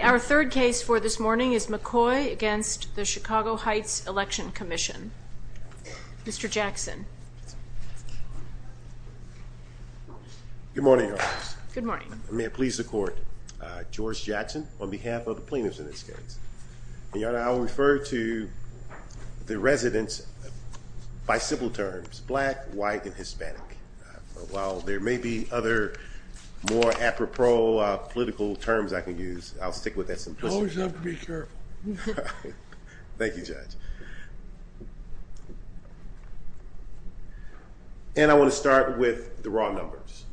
Our third case for this morning is McCoy v. Chicago Heights Election Commission. Mr. Jackson. Good morning Your Honor. May it please the court, George Jackson on behalf of the plaintiffs in this case. Your Honor, I'll refer to the residents by simple terms, black, white, and Hispanic. While there may be other more apropos political terms I can use, I'll stick with that simplicity. You always have to be careful. Thank you judge. And I want to start with the raw numbers.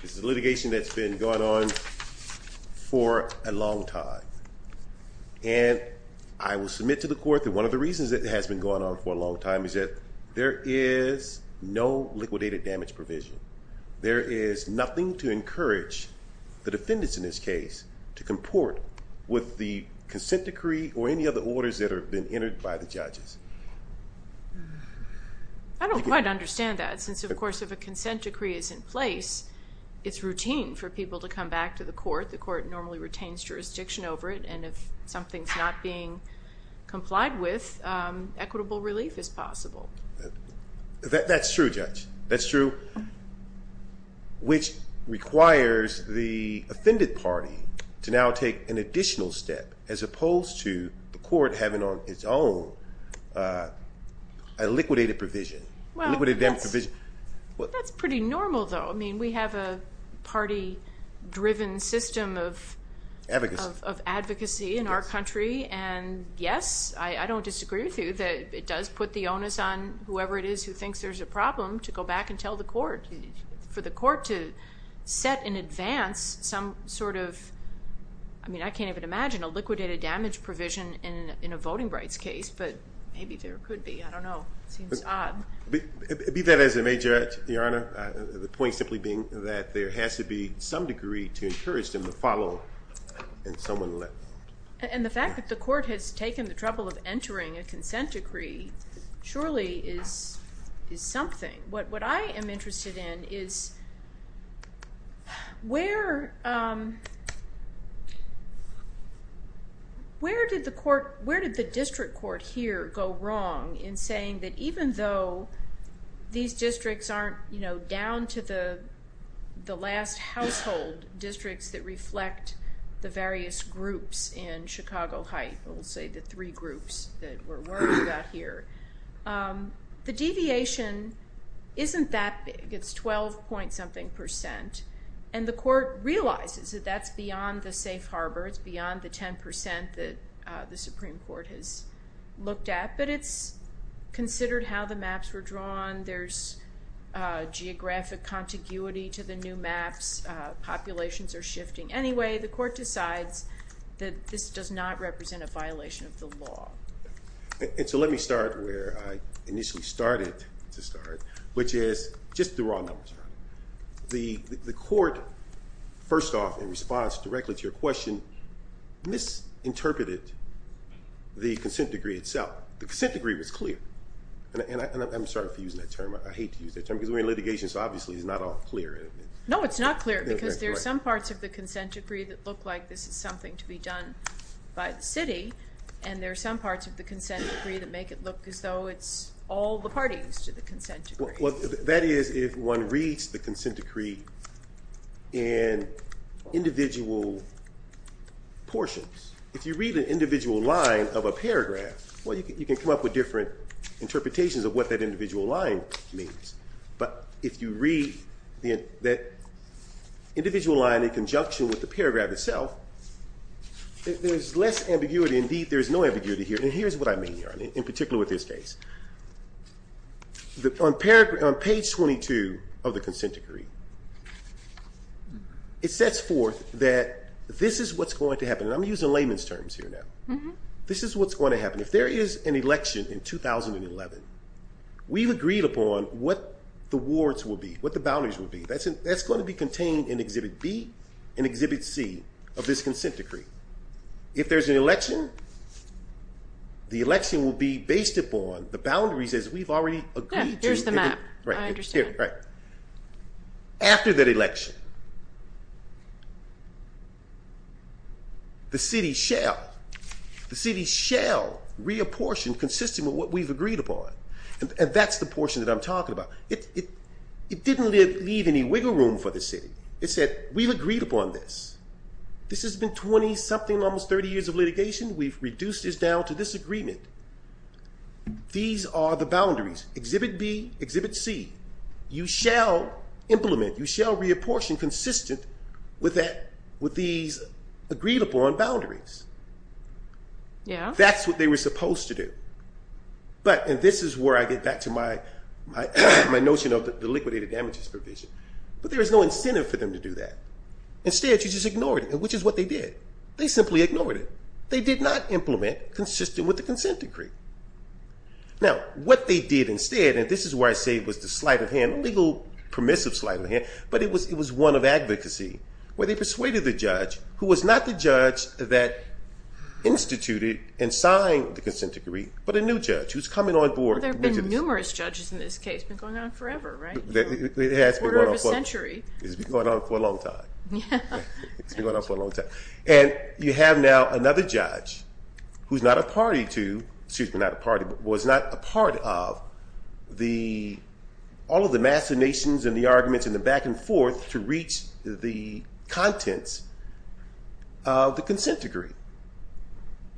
This is litigation that's been going on for a long time and I will submit to the court that one of the reasons that has been going on for a long time is that there is no liquidated damage provision. There is nothing to encourage the defendants in this case to comport with the consent decree or any other orders that have been entered by the judges. I don't quite understand that since of course if a consent decree is in place, it's routine for people to come back to the court. The court normally retains jurisdiction over it and if something's not being complied with, equitable relief is possible. That's true judge, that's true. Which requires the offended party to now take an additional step as opposed to the court having on its own a liquidated provision. Well, that's pretty normal though. I mean we have a party driven system of advocacy in our country and yes, I don't disagree with you that it thinks there's a problem to go back and tell the court. For the court to set in advance some sort of, I mean I can't even imagine a liquidated damage provision in a voting rights case, but maybe there could be. I don't know. It seems odd. Be that as a major, Your Honor, the point simply being that there has to be some degree to encourage them to follow and someone let them. And the fact that the court has is something. What I am interested in is where did the district court here go wrong in saying that even though these districts aren't, you know, down to the last household districts that reflect the various groups in Chicago here, the deviation isn't that big. It's 12 point something percent and the court realizes that that's beyond the safe harbor. It's beyond the 10% that the Supreme Court has looked at, but it's considered how the maps were drawn. There's geographic contiguity to the new maps. Populations are shifting. Anyway, the let me start where I initially started to start, which is just the raw numbers. The court, first off, in response directly to your question, misinterpreted the consent degree itself. The consent degree was clear, and I'm sorry for using that term. I hate to use that term because we're in litigation, so obviously it's not all clear. No, it's not clear because there's some parts of the consent decree that look like this is something to be done by the city, and there are some parts of the look as though it's all the parties to the consent decree. Well, that is if one reads the consent decree in individual portions. If you read an individual line of a paragraph, well, you can come up with different interpretations of what that individual line means, but if you read that individual line in conjunction with the paragraph itself, there's less ambiguity. Indeed, there's no ambiguity, particularly with this case. On page 22 of the consent decree, it sets forth that this is what's going to happen. I'm using layman's terms here now. This is what's going to happen. If there is an election in 2011, we've agreed upon what the warrants will be, what the boundaries will be. That's going to be contained in Exhibit B and Exhibit C of this on the boundaries as we've already agreed to. Here's the map. I understand. After that election, the city shall reapportion consistent with what we've agreed upon, and that's the portion that I'm talking about. It didn't leave any wiggle room for the city. It said, we've agreed upon this. This has been 20-something, almost 30 years of litigation. We've reduced this down to this agreement. These are the boundaries, Exhibit B, Exhibit C. You shall implement, you shall reapportion consistent with these agreed-upon boundaries. That's what they were supposed to do, and this is where I get back to my notion of the liquidated damages provision, but there is no incentive for them to do that. Instead, you just ignore it, which is what they did. They simply ignored it. They did not implement consistent with the consent decree. Now, what they did instead, and this is where I say it was the sleight of hand, legal permissive sleight of hand, but it was one of advocacy, where they persuaded the judge, who was not the judge that instituted and signed the consent decree, but a new judge who's coming on board. There have been numerous judges in this case. It's been going on forever, right? It has been going on for a century. It's been going on for a long time. It's been going on for a long time. And you have now another judge who's not a party to, excuse me, not a party, but was not a part of all of the machinations and the arguments and the back-and-forth to reach the contents of the consent decree,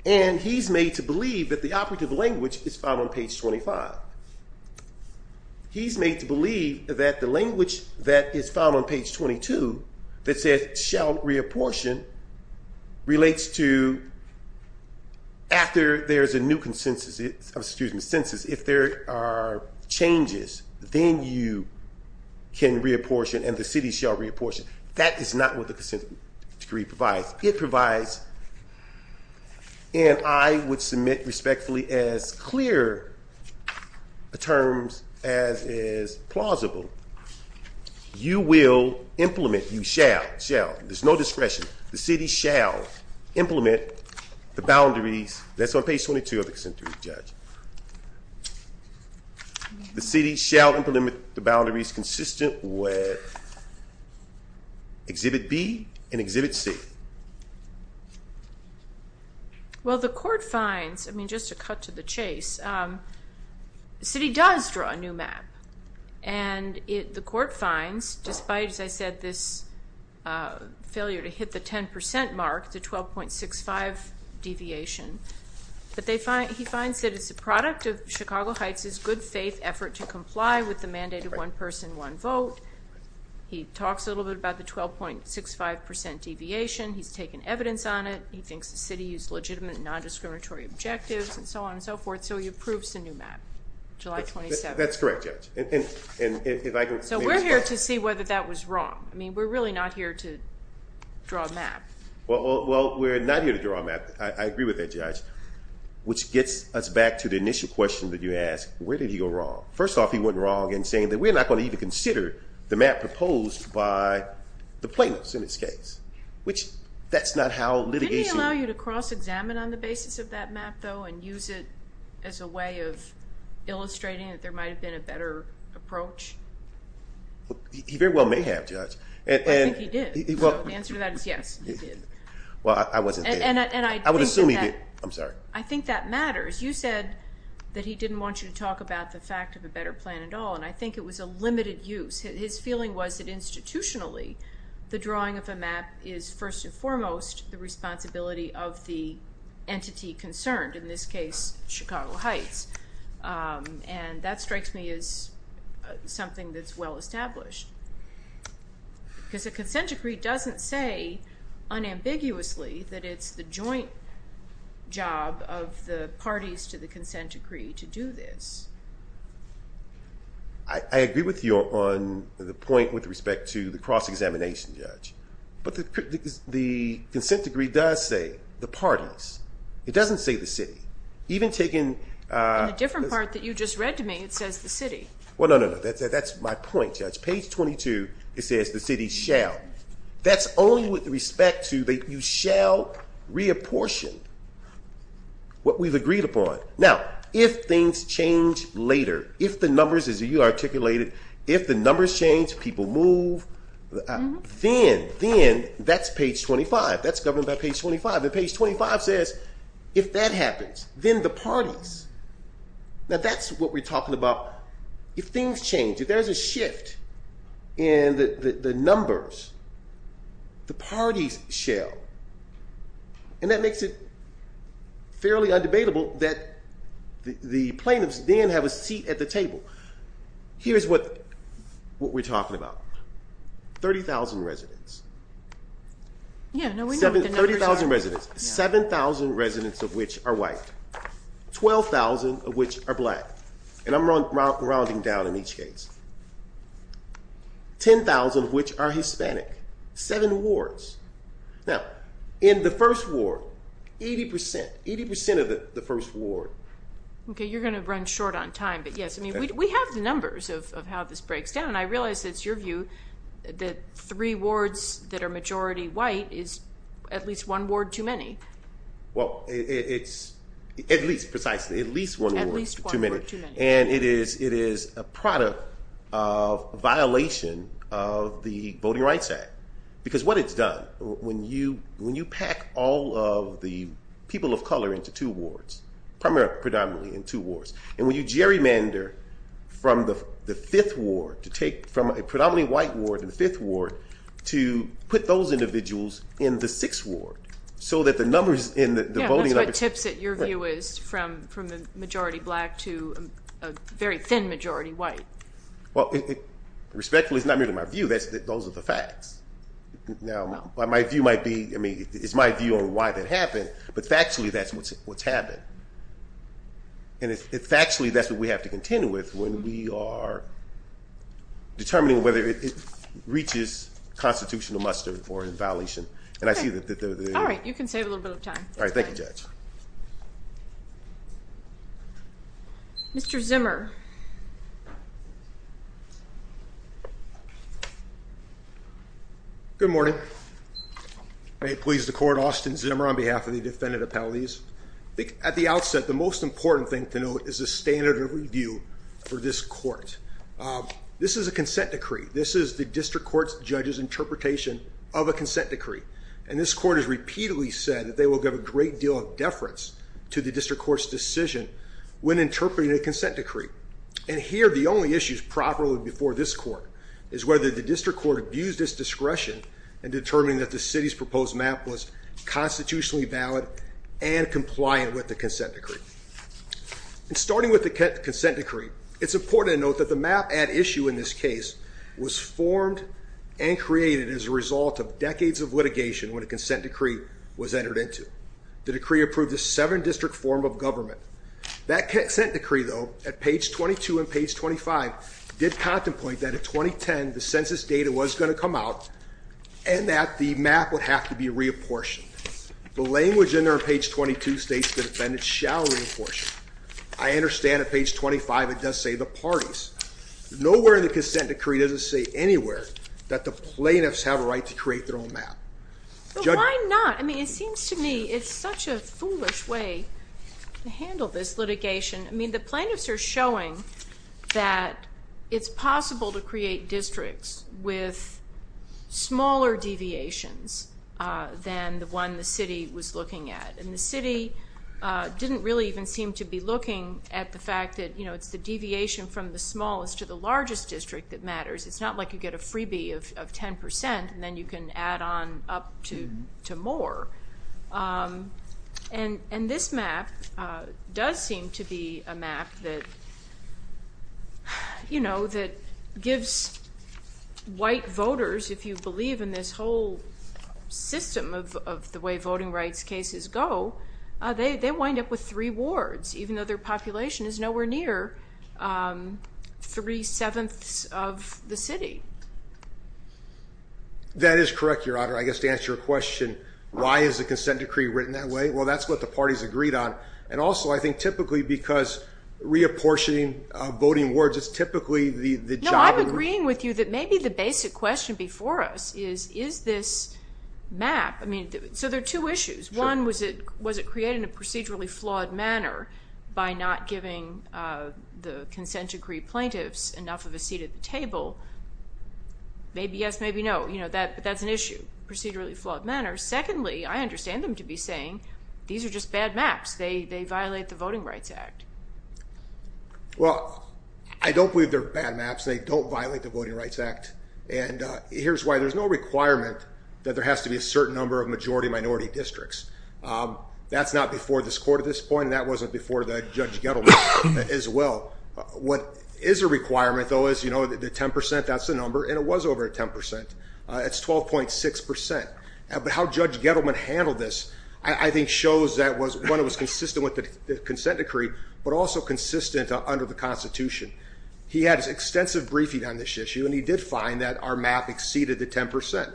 and he's made to believe that the operative language is found on page 25. He's made to believe that the language that is found on page 22 that says, shall reapportion, relates to after there's a new consensus, excuse me, census, if there are changes, then you can reapportion and the city shall reapportion. That is not what the consent decree provides. It provides, and I would submit respectfully as clear a terms as is plausible, you will implement, you shall, shall, there's no discretion, the city shall implement the boundaries, that's on page 22 of the consent decree, Judge. The city shall implement the I mean, just to cut to the chase, the city does draw a new map, and the court finds, despite, as I said, this failure to hit the 10% mark, the 12.65 deviation, but he finds that it's a product of Chicago Heights's good-faith effort to comply with the mandated one-person, one-vote. He talks a little bit about the 12.65% deviation. He's taken evidence on it. He thinks the and so on and so forth, so he approves the new map, July 27th. That's correct, Judge. So we're here to see whether that was wrong. I mean, we're really not here to draw a map. Well, we're not here to draw a map. I agree with that, Judge, which gets us back to the initial question that you asked, where did he go wrong? First off, he went wrong in saying that we're not going to even consider the map proposed by the plaintiffs in this case, which that's not how litigation... Didn't he allow you to and use it as a way of illustrating that there might have been a better approach? He very well may have, Judge. I think he did. The answer to that is yes, he did. Well, I wasn't there. I would assume he did. I'm sorry. I think that matters. You said that he didn't want you to talk about the fact of a better plan at all, and I think it was a limited use. His feeling was that institutionally, the drawing of this case, Chicago Heights, and that strikes me as something that's well established, because a consent decree doesn't say unambiguously that it's the joint job of the parties to the consent decree to do this. I agree with you on the point with respect to the cross-examination, Judge, but the consent decree does say the parties. It doesn't say the city. Even taking... In the different part that you just read to me, it says the city. Well, no, no, no. That's my point, Judge. Page 22, it says the city shall. That's only with respect to that you shall reapportion what we've agreed upon. Now, if things change later, if the numbers, as you articulated, if the numbers change, people move, then that's page 25. That's governed by page 25, and page 25 says, if that happens, then the parties. Now, that's what we're talking about. If things change, if there's a shift in the numbers, the parties shall, and that makes it fairly undebatable that the plaintiffs then have a seat at the table. Here's what we're talking about. 30,000 residents. Yeah, no, we know what the numbers are. 30,000 residents, 7,000 residents of which are white, 12,000 of which are black, and I'm rounding down in each case, 10,000 of which are Hispanic, seven wards. Now, in the first ward, 80 percent, 80 percent of the first ward. Okay, you're going to run short on time, but yes, I mean, we have the numbers of how this breaks down, and I realize it's your view that three wards that are majority white is at least one ward too many. Well, it's at least, precisely, at least one ward too many, and it is a product of violation of the Voting Rights Act, because what it's done, when you pack all of the people of color into two wards, predominantly in two wards, and when you take from the fifth ward, to take from a predominantly white ward in the fifth ward, to put those individuals in the sixth ward, so that the numbers in the voting... Yeah, that's what tips it, your view is, from the majority black to a very thin majority white. Well, respectfully, it's not really my view. Those are the facts. Now, my view might be, I mean, it's my view on why that happened, but factually that's what's happened, and factually, that's what we have to contend with when we are determining whether it reaches constitutional muster or in violation, and I see that... All right, you can save a little bit of time. All right, thank you, Judge. Mr. Zimmer. Good morning. May it please the Court, Austin Zimmer on behalf of the District Court. The first important thing to note is the standard of review for this court. This is a consent decree. This is the District Court's judge's interpretation of a consent decree, and this court has repeatedly said that they will give a great deal of deference to the District Court's decision when interpreting a consent decree, and here, the only issues properly before this court is whether the District Court abused its discretion in determining that the city's proposed map was constitutionally valid and compliant with the consent decree. Starting with the consent decree, it's important to note that the map at issue in this case was formed and created as a result of decades of litigation when a consent decree was entered into. The decree approved a seven-district form of government. That consent decree, though, at page 22 and page 25, did contemplate that in 2010, the census data was going to come out and that the map would have to be reapportioned. The language in there on page 22 states the defendant shall reapportion. I understand at page 25 it does say the parties. Nowhere in the consent decree does it say anywhere that the plaintiffs have a right to create their own map. Why not? I mean, it seems to me it's such a foolish way to handle this litigation. I mean, the plaintiffs are showing that it's possible to create than the one the city was looking at. And the city didn't really even seem to be looking at the fact that, you know, it's the deviation from the smallest to the largest district that matters. It's not like you get a freebie of 10% and then you can add on up to more. And this map does seem to be a map that, you know, the system of the way voting rights cases go, they wind up with three wards, even though their population is nowhere near three-sevenths of the city. That is correct, Your Honor. I guess to answer your question, why is the consent decree written that way? Well, that's what the parties agreed on. And also, I think typically because reapportioning voting wards is typically the job... No, I'm agreeing with you that maybe the basic question before us is, is this map... I mean, so there are two issues. One, was it created in a procedurally flawed manner by not giving the consent decree plaintiffs enough of a seat at the table? Maybe yes, maybe no. You know, that's an issue, procedurally flawed manner. Secondly, I understand them to be saying, these are just bad maps. They violate the Voting Rights Act. And here's why. There's no requirement that there has to be a certain number of majority-minority districts. That's not before this court at this point, and that wasn't before the Judge Gettleman as well. What is a requirement, though, is, you know, the 10 percent, that's the number, and it was over 10 percent. It's 12.6 percent. But how Judge Gettleman handled this, I think, shows that, one, it was consistent with the consent decree, but also consistent under the Constitution. He had his extensive briefing on this issue, and he did find that our map exceeded the 10 percent.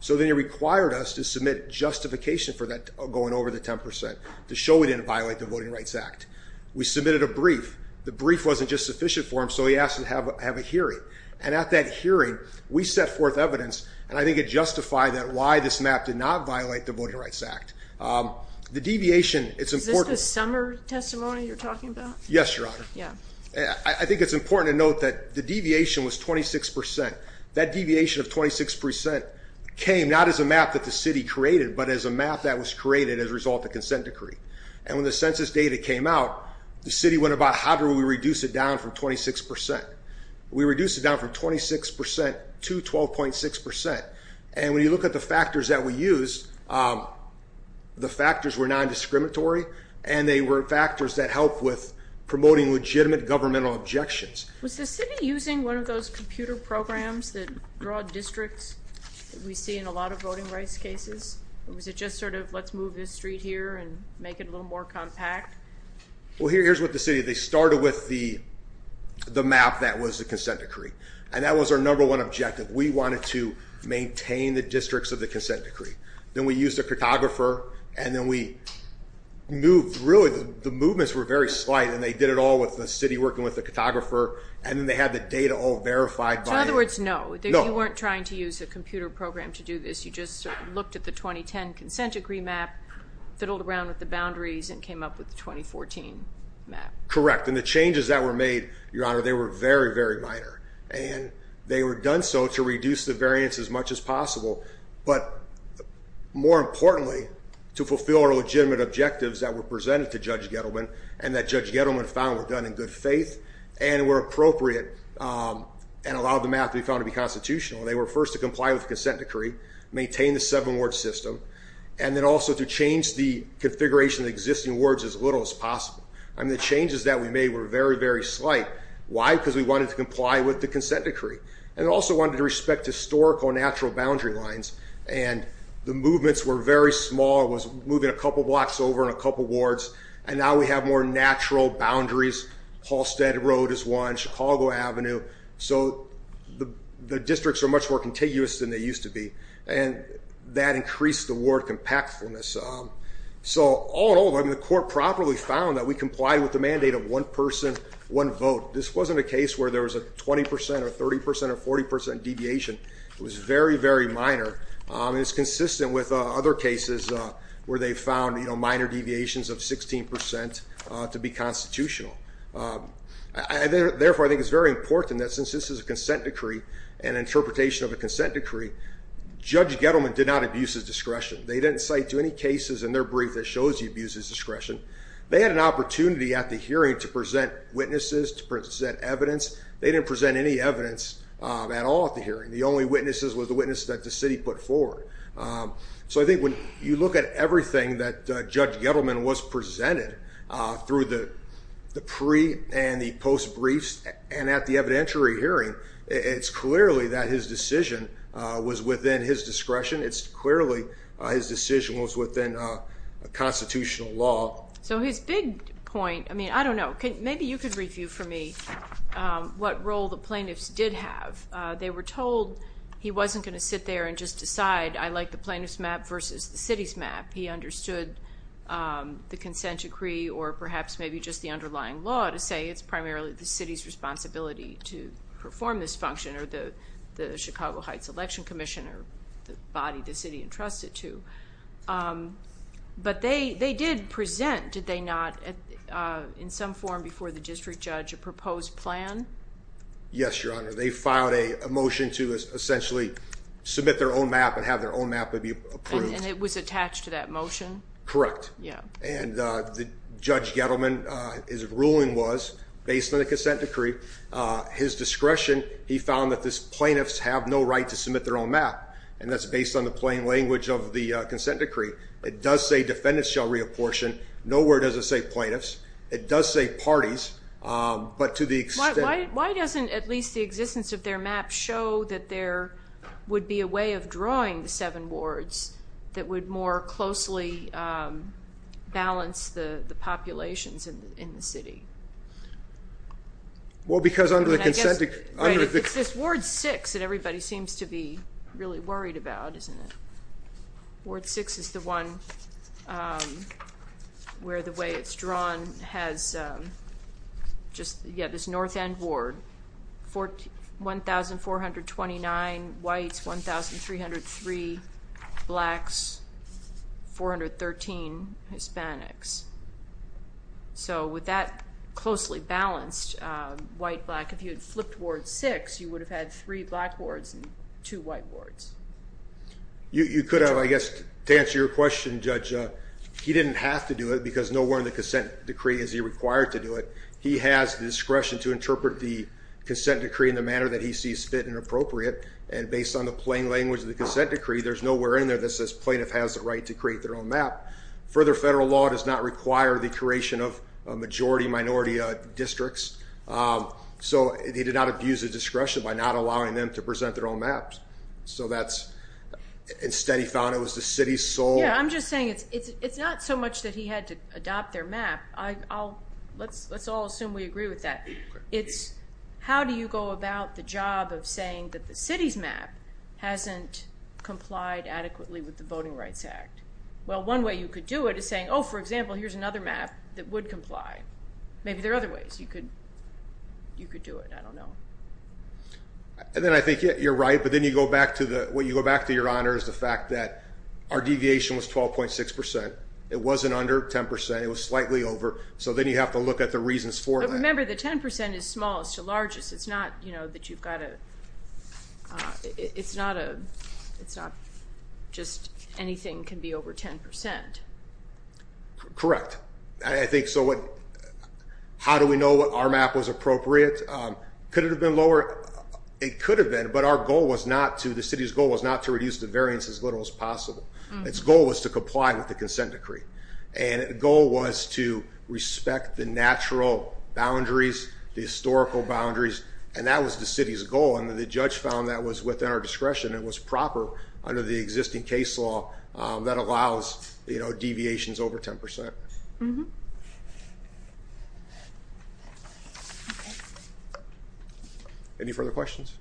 So then he required us to submit justification for that going over the 10 percent, to show we didn't violate the Voting Rights Act. We submitted a brief. The brief wasn't just sufficient for him, so he asked to have a hearing. And at that hearing, we set forth evidence, and I think it justified that why this map did not violate the Voting Rights Act. Is this the summer testimony you're talking about? Yes, Your Honor. Yeah. I think it's important to note that the deviation was 26 percent. That deviation of 26 percent came not as a map that the City created, but as a map that was created as a result of the consent decree. And when the census data came out, the City went about, how do we reduce it down from 26 percent? We reduced it down from 26 percent to 12.6 percent, and when you look at the factors that we used, the were not discriminatory, and they were factors that helped with promoting legitimate governmental objections. Was the City using one of those computer programs that draw districts that we see in a lot of voting rights cases? Or was it just sort of, let's move this street here and make it a little more compact? Well, here's what the City, they started with the map that was the consent decree, and that was our number one objective. We wanted to maintain the districts of the consent decree. Then we used a cartographer, and then we moved, really the movements were very slight, and they did it all with the City working with the cartographer, and then they had the data all verified. So in other words, no, you weren't trying to use a computer program to do this. You just looked at the 2010 consent decree map, fiddled around with the boundaries, and came up with the 2014 map. Correct, and the changes that were made, Your Honor, they were very, very minor, and they were done so to reduce the variance as much as possible, but more importantly, to fulfill our legitimate objectives that were presented to Judge Gettleman, and that Judge Gettleman found were done in good faith, and were appropriate, and allowed the map to be found to be constitutional. They were first to comply with the consent decree, maintain the seven ward system, and then also to change the configuration of the existing wards as little as possible. I mean, the changes that we made were very, very slight. Why? Because we wanted to comply with the consent decree, and also wanted to respect historical natural boundary lines, and the movements were very small. It was moving a couple blocks over in a couple wards, and now we have more natural boundaries. Halstead Road is one, Chicago Avenue. So the districts are much more contiguous than they used to be, and that increased the ward compactfulness. So all in all, I mean, the court properly found that we complied with the mandate of one person, one vote. This wasn't a case where there was a 20% or 30% or 40% deviation. It was very, very minor. It's consistent with other cases where they found, you know, minor deviations of 16% to be constitutional. Therefore, I think it's very important that since this is a consent decree, and interpretation of a consent decree, Judge Gettleman did not abuse his discretion. They didn't cite to any cases in their brief that shows he abused his discretion. They had an opportunity at the hearing to present witnesses, to present evidence. They didn't present any evidence at all at the hearing. The only witnesses was the witness that the city put forward. So I think when you look at everything that Judge Gettleman was presented through the pre and the post briefs, and at the evidentiary hearing, it's clearly that his decision was within his discretion. It's clearly his decision was within a You could review for me what role the plaintiffs did have. They were told he wasn't going to sit there and just decide, I like the plaintiff's map versus the city's map. He understood the consent decree, or perhaps maybe just the underlying law, to say it's primarily the city's responsibility to perform this function, or the Chicago Heights Election Commission, or the body the city entrusted to. But they did present, did they not, in some form before the district judge a proposed plan? Yes, Your Honor. They filed a motion to essentially submit their own map and have their own map be approved. And it was attached to that motion? Correct. And Judge Gettleman, his ruling was, based on the consent decree, his discretion, he found that this plaintiffs have no right to submit their own map. And that's based on the plain language of the consent decree. It does say defendants shall reapportion. Nowhere does it say plaintiffs. It does say parties, but to the extent... Why doesn't at least the existence of their map show that there would be a way of drawing the seven wards that would more closely balance the the populations in the city? Well, because under the consent decree... It's this Ward 6 that everybody seems to be The way it's drawn has just, yeah, this North End Ward. 1,429 whites, 1,303 blacks, 413 Hispanics. So with that closely balanced white-black, if you had flipped Ward 6, you would have had three black wards and two white wards. You could have, I guess, to answer your question, Judge, he didn't have to do it because nowhere in the consent decree is he required to do it. He has the discretion to interpret the consent decree in the manner that he sees fit and appropriate. And based on the plain language of the consent decree, there's nowhere in there that says plaintiff has the right to create their own map. Further, federal law does not require the creation of majority-minority districts. So he did not abuse the discretion by not allowing them to present their own maps. So that's... Instead, he found it was the city's sole... Yeah, I'm just saying it's not so much that he had to adopt their map. I'll... Let's all assume we agree with that. It's how do you go about the job of saying that the city's map hasn't complied adequately with the Voting Rights Act? Well, one way you could do it is saying, oh, for example, here's another map that would comply. Maybe there are other ways you could do it. I don't know. And then I think you're right, but then you go back to the... Our deviation was 12.6%. It wasn't under 10%. It was slightly over. So then you have to look at the reasons for that. But remember, the 10% is smallest to largest. It's not, you know, that you've got to... It's not a... It's not just anything can be over 10%. Correct. I think so what... How do we know what our map was appropriate? Could it have been lower? It could have been, but our goal was not to... The city's goal was not to reduce the variance as little as possible. Its goal was to comply with the consent decree. And the goal was to respect the natural boundaries, the historical boundaries, and that was the city's goal. And then the judge found that was within our discretion. It was proper under the existing case law that allows, you know, deviations over 10%. Mm-hmm. Any further questions?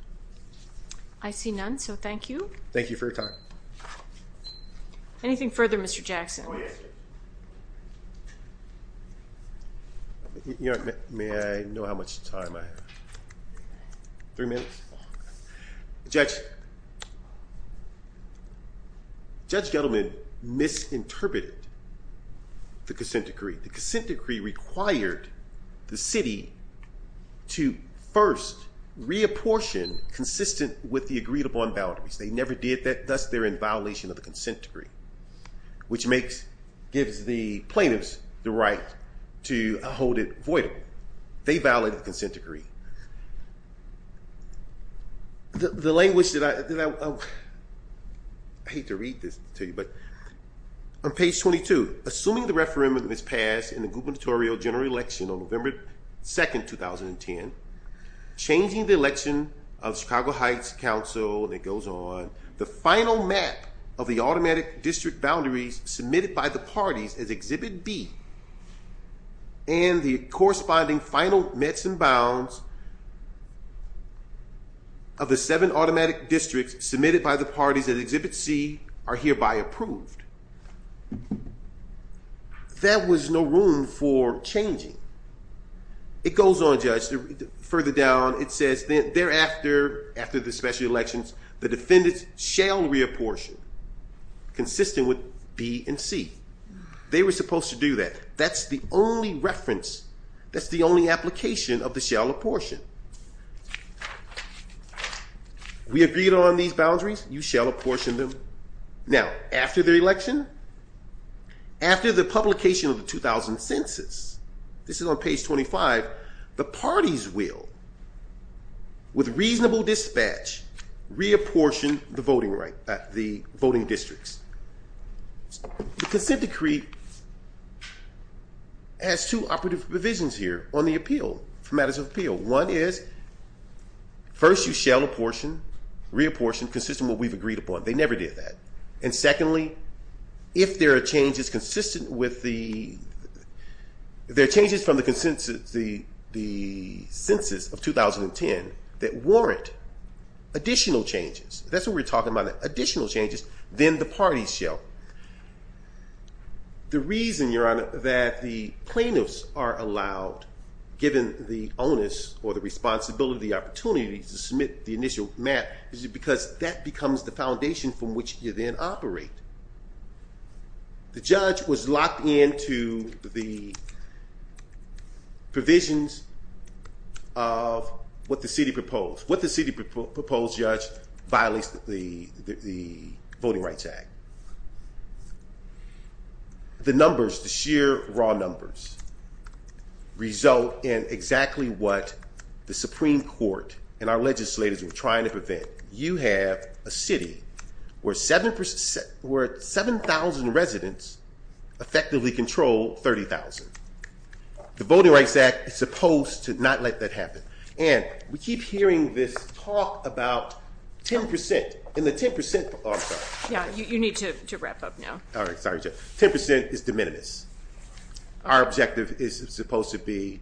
I see none, so thank you. Thank you for your time. Anything further, Mr. Jackson? Oh, yes. You know, may I know how much time I have? Three minutes? Judge... Judge Gettleman misinterpreted the consent decree. The consent decree required the city to first reapportion consistent with the agreed-upon boundaries. They never did that, thus they're in violation of the consent decree, which makes... Gives the plaintiffs the right to hold it voidable. They language that I... I hate to read this to you, but... On page 22, assuming the referendum is passed in the gubernatorial general election on November 2nd, 2010, changing the election of Chicago Heights Council, and it goes on, the final map of the automatic district boundaries submitted by the parties as Exhibit B, and the corresponding final mets and bounds of the seven automatic districts submitted by the parties at Exhibit C are hereby approved. That was no room for changing. It goes on, Judge, further down, it says thereafter, after the special elections, the defendants shall reapportion consistent with B and C. They were supposed to do that. That's the only application of the shall apportion. We agreed on these boundaries, you shall apportion them. Now, after the election, after the publication of the 2000 census, this is on page 25, the parties will, with reasonable dispatch, reapportion the voting right... the voting districts. The consent decree has two operative visions here on the appeal, for matters of appeal. One is, first, you shall apportion, reapportion consistent with what we've agreed upon. They never did that. And secondly, if there are changes consistent with the... there are changes from the consensus... the census of 2010 that warrant additional changes, that's what we're talking about, additional changes, then the parties shall. The reason, Your Honor, we're not allowed, given the onus or the responsibility, the opportunity to submit the initial map, is because that becomes the foundation from which you then operate. The judge was locked into the provisions of what the city proposed. What the city proposed, Judge, violates the Voting Rights Act. The numbers, the results in exactly what the Supreme Court and our legislators were trying to prevent. You have a city where 7,000 residents effectively control 30,000. The Voting Rights Act is supposed to not let that happen. And we keep hearing this talk about 10% and the 10%... Oh, I'm sorry. Yeah, you need to wrap up now. Alright, sorry, Judge. 10% is de minimis. Our objective is supposed to be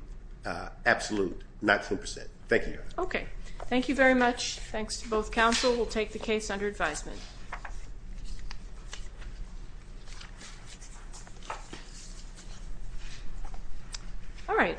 absolute, not 10%. Thank you, Your Honor. Okay, thank you very much. Thanks to both counsel. We'll take the case under advisement. All right.